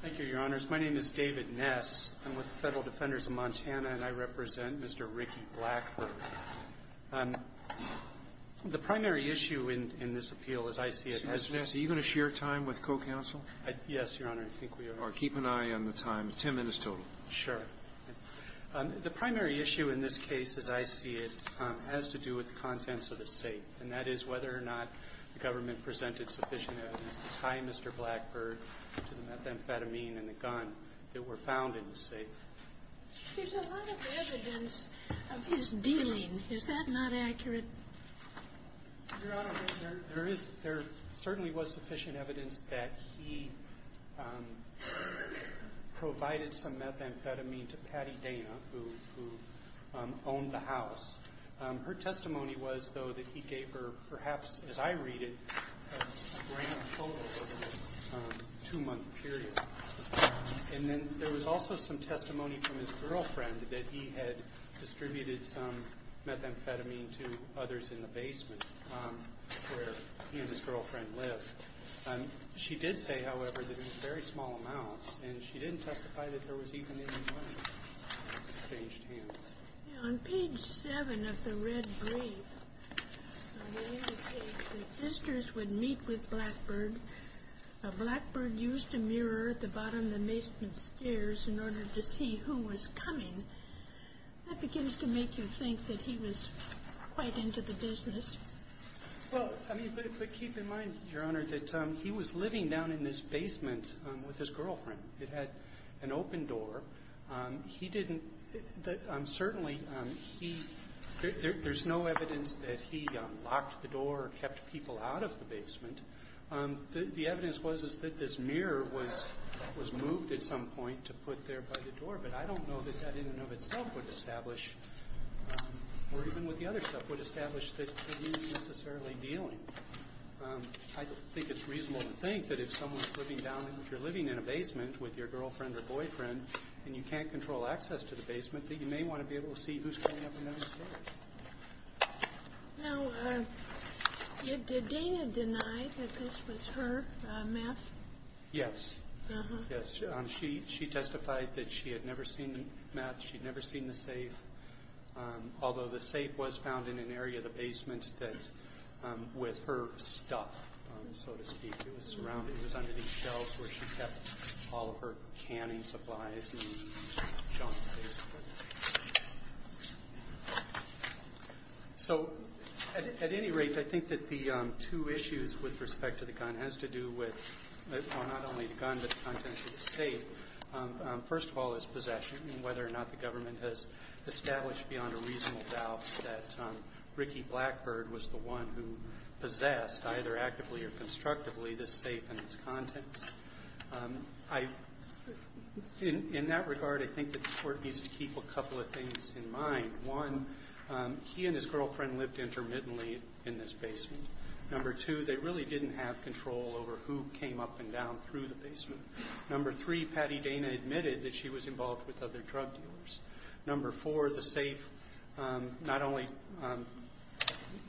Thank you, Your Honors. My name is David Ness. I'm with the Federal Defenders of Montana, and I represent Mr. Ricky Blackbird. The primary issue in this appeal, as I see it... Mr. Ness, are you going to share time with co-counsel? Yes, Your Honor. I think we are. All right. Keep an eye on the time. Ten minutes total. Sure. The primary issue in this case, as I see it, has to do with the contents of the state, and that is whether or not the government presented sufficient evidence to tie Mr. Blackbird to the methamphetamine in the gun that were found in the safe. There's a lot of evidence of his dealing. Is that not accurate? Your Honor, there certainly was sufficient evidence that he provided some methamphetamine to Patty Dana, who owned the house. Her testimony was, though, that he gave her perhaps, as I read it, a grand total over a two-month period. And then there was also some testimony from his girlfriend that he had distributed some methamphetamine to others in the basement where he and his girlfriend lived. She did say, however, that in very small amounts, and she didn't testify that there was even any money exchanged here. On page 7 of the red brief, it indicates that visitors would meet with Blackbird. Blackbird used a mirror at the bottom of the basement stairs in order to see who was coming. That begins to make you think that he was quite into the business. Well, I mean, but keep in mind, Your Honor, that he was living down in this basement with his girlfriend. It had an open door. He didn't – certainly he – there's no evidence that he locked the door or kept people out of the basement. The evidence was that this mirror was moved at some point to put there by the door. But I don't know that that in and of itself would establish, or even with the other stuff, would establish that he was necessarily dealing. I think it's reasonable to think that if someone's living down – if you're living in a basement with your girlfriend or boyfriend and you can't control access to the basement, that you may want to be able to see who's coming up and down the stairs. Now, did Dana deny that this was her meth? Yes. Uh-huh. Yes. Although the safe was found in an area of the basement that – with her stuff, so to speak. It was surrounded – it was under these shelves where she kept all of her canning supplies and junk, basically. So at any rate, I think that the two issues with respect to the gun has to do with – well, not only the gun, but the contents of the safe. First of all, his possession and whether or not the government has established beyond a reasonable doubt that Ricky Blackbird was the one who possessed, either actively or constructively, this safe and its contents. In that regard, I think that the Court needs to keep a couple of things in mind. One, he and his girlfriend lived intermittently in this basement. Number two, they really didn't have control over who came up and down through the basement. Number three, Patty Dana admitted that she was involved with other drug dealers. Number four, the safe not only –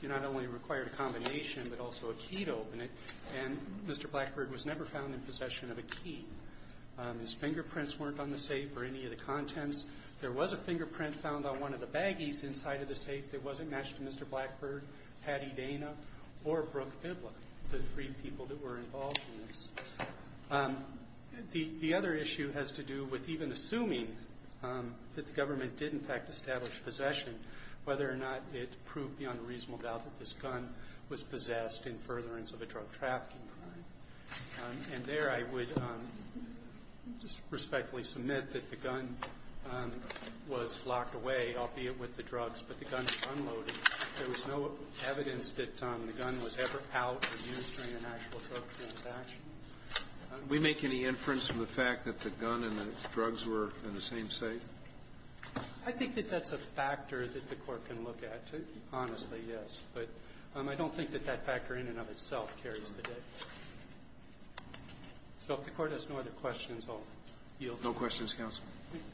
it not only required a combination, but also a key to open it, and Mr. Blackbird was never found in possession of a key. His fingerprints weren't on the safe or any of the contents. There was a fingerprint found on one of the baggies inside of the safe that wasn't matched to Mr. Blackbird, Patty Dana, or Brooke Bibler, the three people that were involved in this. The other issue has to do with even assuming that the government did, in fact, establish possession, whether or not it proved beyond a reasonable doubt that this gun was possessed in furtherance of a drug trafficking crime. And there I would just respectfully submit that the gun was locked away, albeit with the drugs, but the gun was unloaded. There was no evidence that the gun was ever out or used during an actual drug transaction. We make any inference from the fact that the gun and the drugs were in the same safe? I think that that's a factor that the Court can look at. Honestly, yes. But I don't think that that factor in and of itself carries the date. So if the Court has no other questions, I'll yield. No questions, counsel. Thank you.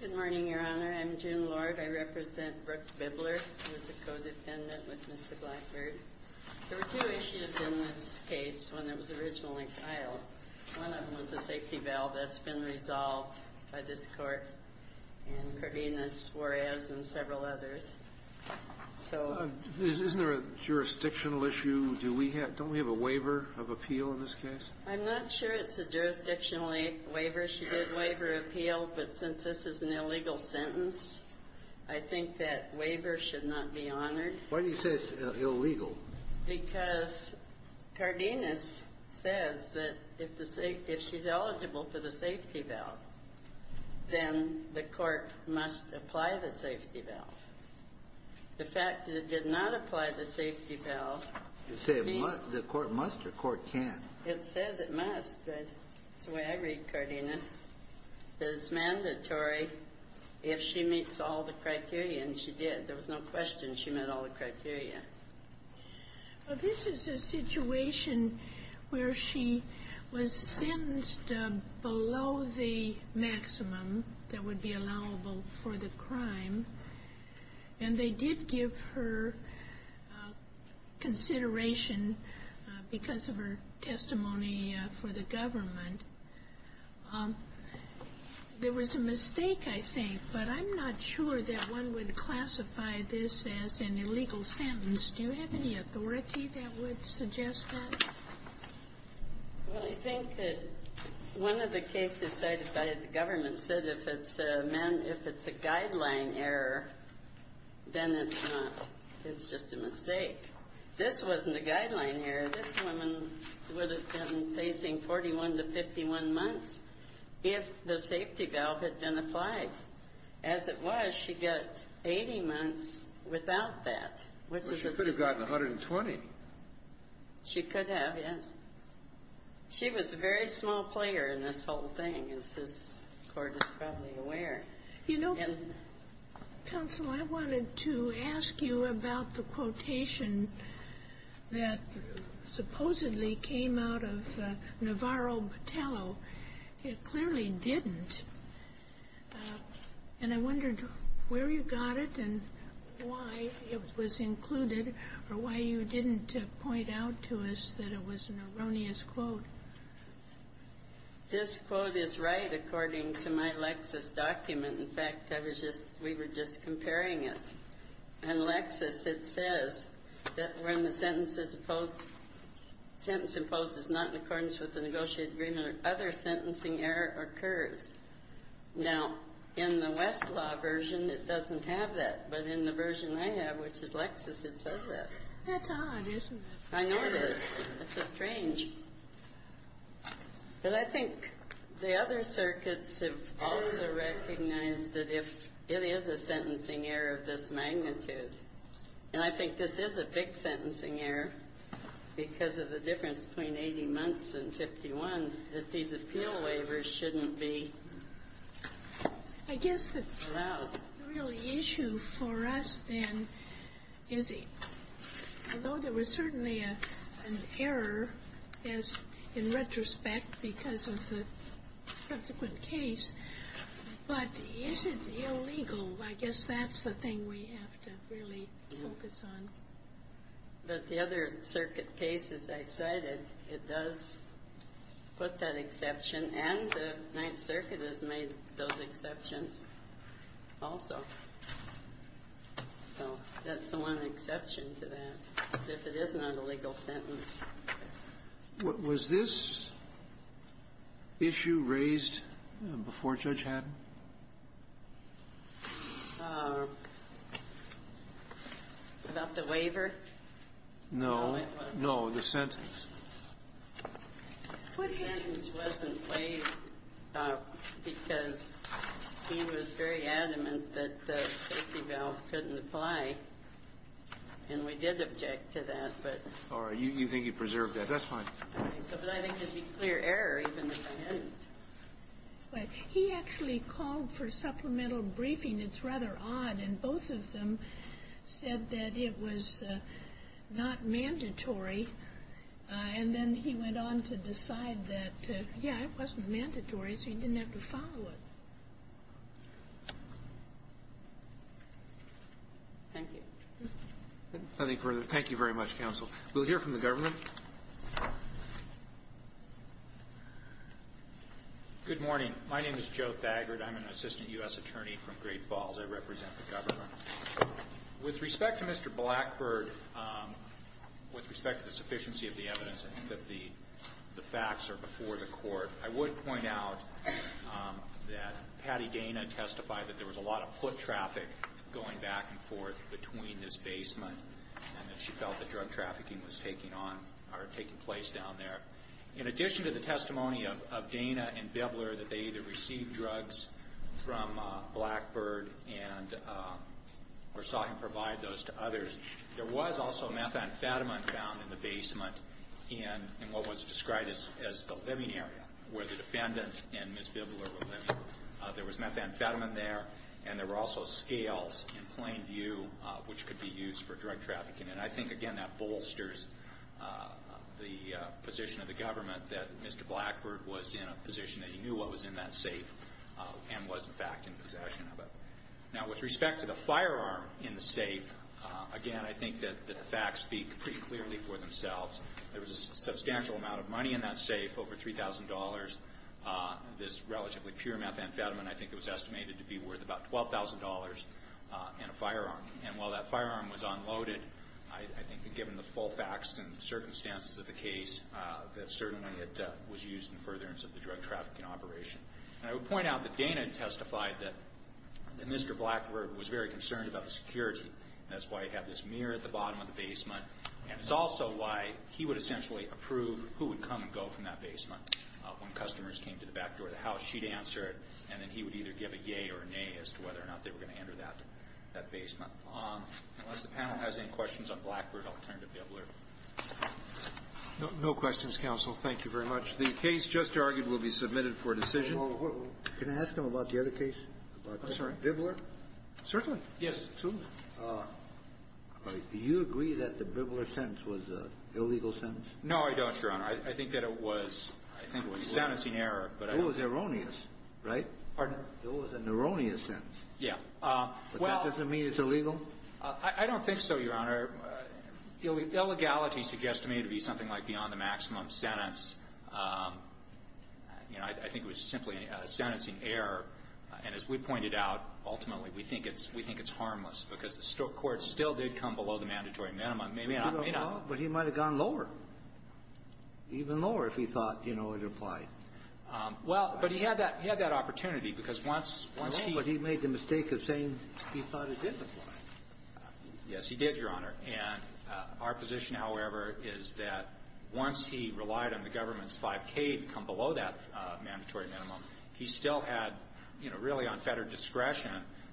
Good morning, Your Honor. I'm June Lord. I represent Brooke Bibler, who is a codependent with Mr. Blackbird. There were two issues in this case when it was originally filed. One of them was a safety bail. That's been resolved by this Court and Cardenas, Juarez, and several others. Isn't there a jurisdictional issue? Don't we have a waiver of appeal in this case? I'm not sure it's a jurisdictional waiver. It should be a waiver of appeal, but since this is an illegal sentence, I think that waiver should not be honored. Why do you say it's illegal? Because Cardenas says that if she's eligible for the safety bail, then the Court must apply the safety bail. The fact that it did not apply the safety bail means the Court must or the Court can't. It says it must, but that's the way I read Cardenas, that it's mandatory if she meets all the criteria, and she did. There was no question she met all the criteria. This is a situation where she was sentenced below the maximum that would be allowable for the crime, and they did give her consideration because of her testimony for the government. There was a mistake, I think, but I'm not sure that one would classify this as an illegal sentence. Do you have any authority that would suggest that? Well, I think that one of the cases cited by the government said if it's a guideline error, then it's not. It's just a mistake. This wasn't a guideline error. This woman would have been facing 41 to 51 months if the safety bail had been applied. As it was, she got 80 months without that. Well, she could have gotten 120. She could have, yes. She was a very small player in this whole thing, as this Court is probably aware. You know, Counsel, I wanted to ask you about the quotation that supposedly came out of Navarro Batello. It clearly didn't, and I wondered where you got it and why it was included or why you didn't point out to us that it was an erroneous quote. This quote is right according to my Lexis document. In fact, we were just comparing it. In Lexis, it says that when the sentence imposed is not in accordance with the negotiated agreement or other sentencing error occurs. Now, in the Westlaw version, it doesn't have that. But in the version I have, which is Lexis, it says that. That's odd, isn't it? I know it is. It's strange. But I think the other circuits have also recognized that if it is a sentencing error of this magnitude, and I think this is a big sentencing error because of the difference between 80 months and 51, that these appeal waivers shouldn't be allowed. The real issue for us then is, although there was certainly an error in retrospect because of the subsequent case, but is it illegal? I guess that's the thing we have to really focus on. But the other circuit cases I cited, it does put that exception, and the Ninth Circuit has made those exceptions also. So that's one exception to that, is if it is not a legal sentence. What was this issue raised before Judge Haddon? About the waiver? No. No, the sentence. The sentence wasn't waived because he was very adamant that the safety valve couldn't apply. And we did object to that. All right. You think you preserved that. That's fine. But I think it would be clear error even if I hadn't. He actually called for supplemental briefing. It's rather odd. And both of them said that it was not mandatory. And then he went on to decide that, yeah, it wasn't mandatory, so he didn't have to follow it. Thank you. Nothing further. Thank you very much, counsel. We'll hear from the government. Good morning. My name is Joe Thagard. I'm an assistant U.S. attorney from Great Falls. I represent the government. With respect to Mr. Blackbird, with respect to the sufficiency of the evidence and that the facts are before the court, I would point out that Patty Dana testified that there was a lot of foot traffic going back and forth between this basement and that she felt that drug trafficking was taking place down there. In addition to the testimony of Dana and Bibler that they either received drugs from Blackbird or saw him provide those to others, there was also methamphetamine found in the basement in what was described as the living area where the defendant and Ms. Bibler were living. There was methamphetamine there, and there were also scales in plain view which could be used for drug trafficking. And I think, again, that bolsters the position of the government that Mr. Blackbird was in a position that he knew what was in that safe and was, in fact, in possession of it. Now, with respect to the firearm in the safe, again, I think that the facts speak pretty clearly for themselves. There was a substantial amount of money in that safe, over $3,000. This relatively pure methamphetamine, I think it was estimated to be worth about $12,000 and a firearm. And while that firearm was unloaded, I think given the full facts and circumstances of the case, that certainly it was used in furtherance of the drug trafficking operation. And I would point out that Dana testified that Mr. Blackbird was very concerned about the security, and that's why he had this mirror at the bottom of the basement, and it's also why he would essentially approve who would come and go from that basement. When customers came to the back door of the house, she'd answer it, and then he would either give a yea or a nay as to whether or not they were going to enter that basement. Unless the panel has any questions on Blackbird, I'll turn to Bibler. No questions, counsel. Thank you very much. The case just argued will be submitted for decision. Can I ask him about the other case? Oh, sorry. Bibler? Certainly. Yes. Do you agree that the Bibler sentence was an illegal sentence? No, I don't, Your Honor. I think that it was a sentencing error. It was erroneous, right? Pardon? It was an erroneous sentence. Yeah. But that doesn't mean it's illegal? I don't think so, Your Honor. Illegality suggests to me to be something like beyond the maximum sentence. You know, I think it was simply a sentencing error. And as we pointed out, ultimately, we think it's harmless because the court still did come below the mandatory minimum. Maybe not. But he might have gone lower, even lower, if he thought, you know, it applied. Well, but he had that opportunity because once he ---- No, but he made the mistake of saying he thought it did apply. Yes, he did, Your Honor. And our position, however, is that once he relied on the government's 5K to come below that mandatory minimum, he still had, you know, really unfettered discretion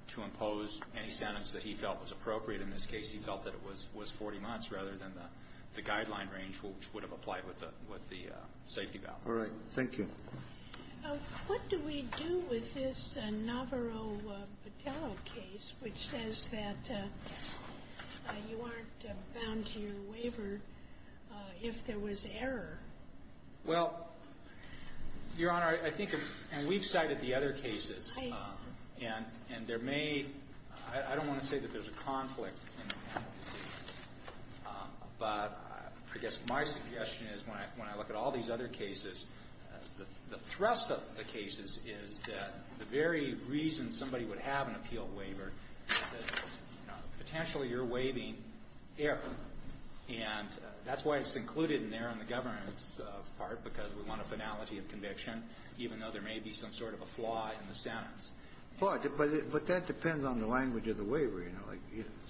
to impose any sentence that he felt was appropriate. In this case, he felt that it was 40 months rather than the guideline range which would have applied with the safety valve. All right. Thank you. What do we do with this Navarro-Patello case which says that you aren't bound to your waiver if there was error? Well, Your Honor, I think if we've cited the other cases, and there may ---- I don't want to say that there's a conflict, but I guess my suggestion is when I look at all these other cases, the thrust of the cases is that the very reason somebody would have an appeal waiver is that, you know, because we want a finality of conviction, even though there may be some sort of a flaw in the sentence. But that depends on the language of the waiver, you know.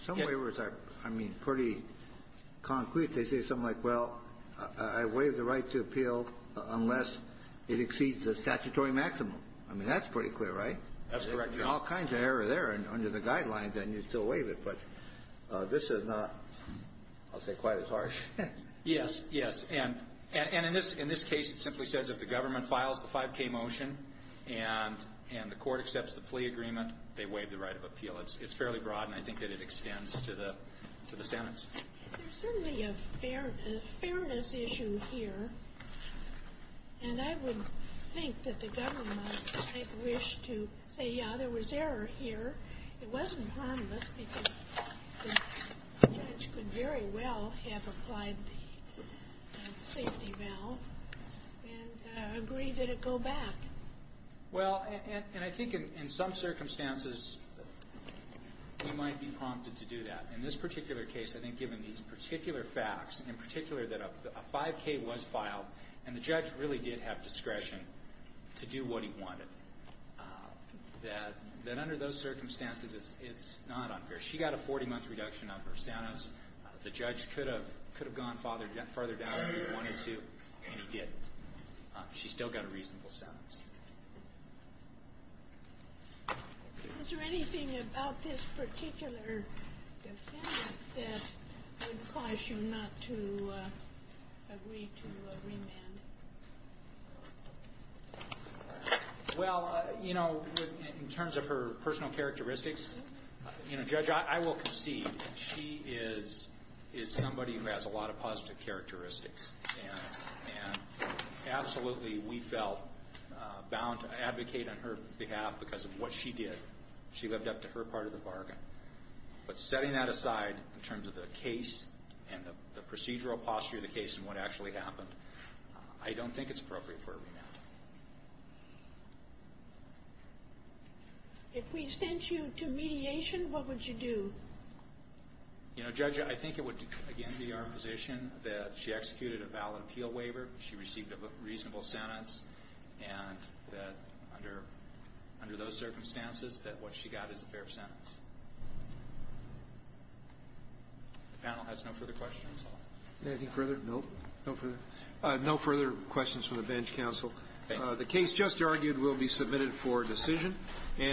Some waivers are, I mean, pretty concrete. They say something like, well, I waive the right to appeal unless it exceeds the statutory maximum. I mean, that's pretty clear, right? That's correct, Your Honor. All kinds of error there under the guidelines, and you still waive it. But this is not, I'll say, quite as harsh. Yes, yes. And in this case, it simply says if the government files the 5K motion and the court accepts the plea agreement, they waive the right of appeal. It's fairly broad, and I think that it extends to the sentence. There's certainly a fairness issue here, and I would think that the government might wish to say, yeah, there was error here. It wasn't harmless because the judge could very well have applied the safety valve and agreed that it go back. Well, and I think in some circumstances, you might be prompted to do that. In this particular case, I think given these particular facts, in particular that a 5K was filed and the judge really did have discretion to do what he wanted, that under those circumstances, it's not unfair. She got a 40-month reduction on her sentence. The judge could have gone farther down if he wanted to, and he didn't. She still got a reasonable sentence. Is there anything about this particular defendant that would cause you not to agree to remand? Well, you know, in terms of her personal characteristics, you know, Judge, I will concede. She is somebody who has a lot of positive characteristics, and absolutely we felt bound to advocate on her behalf because of what she did. She lived up to her part of the bargain. But setting that aside in terms of the case and the procedural posture of the case and what actually happened, I don't think it's appropriate for a remand. If we sent you to mediation, what would you do? You know, Judge, I think it would, again, be our position that she executed a valid appeal waiver, she received a reasonable sentence, and that under those circumstances, that what she got is a fair sentence. The panel has no further questions. Anything further? No. No further? No further questions from the bench, counsel. Thank you. The case just argued will be submitted for decision.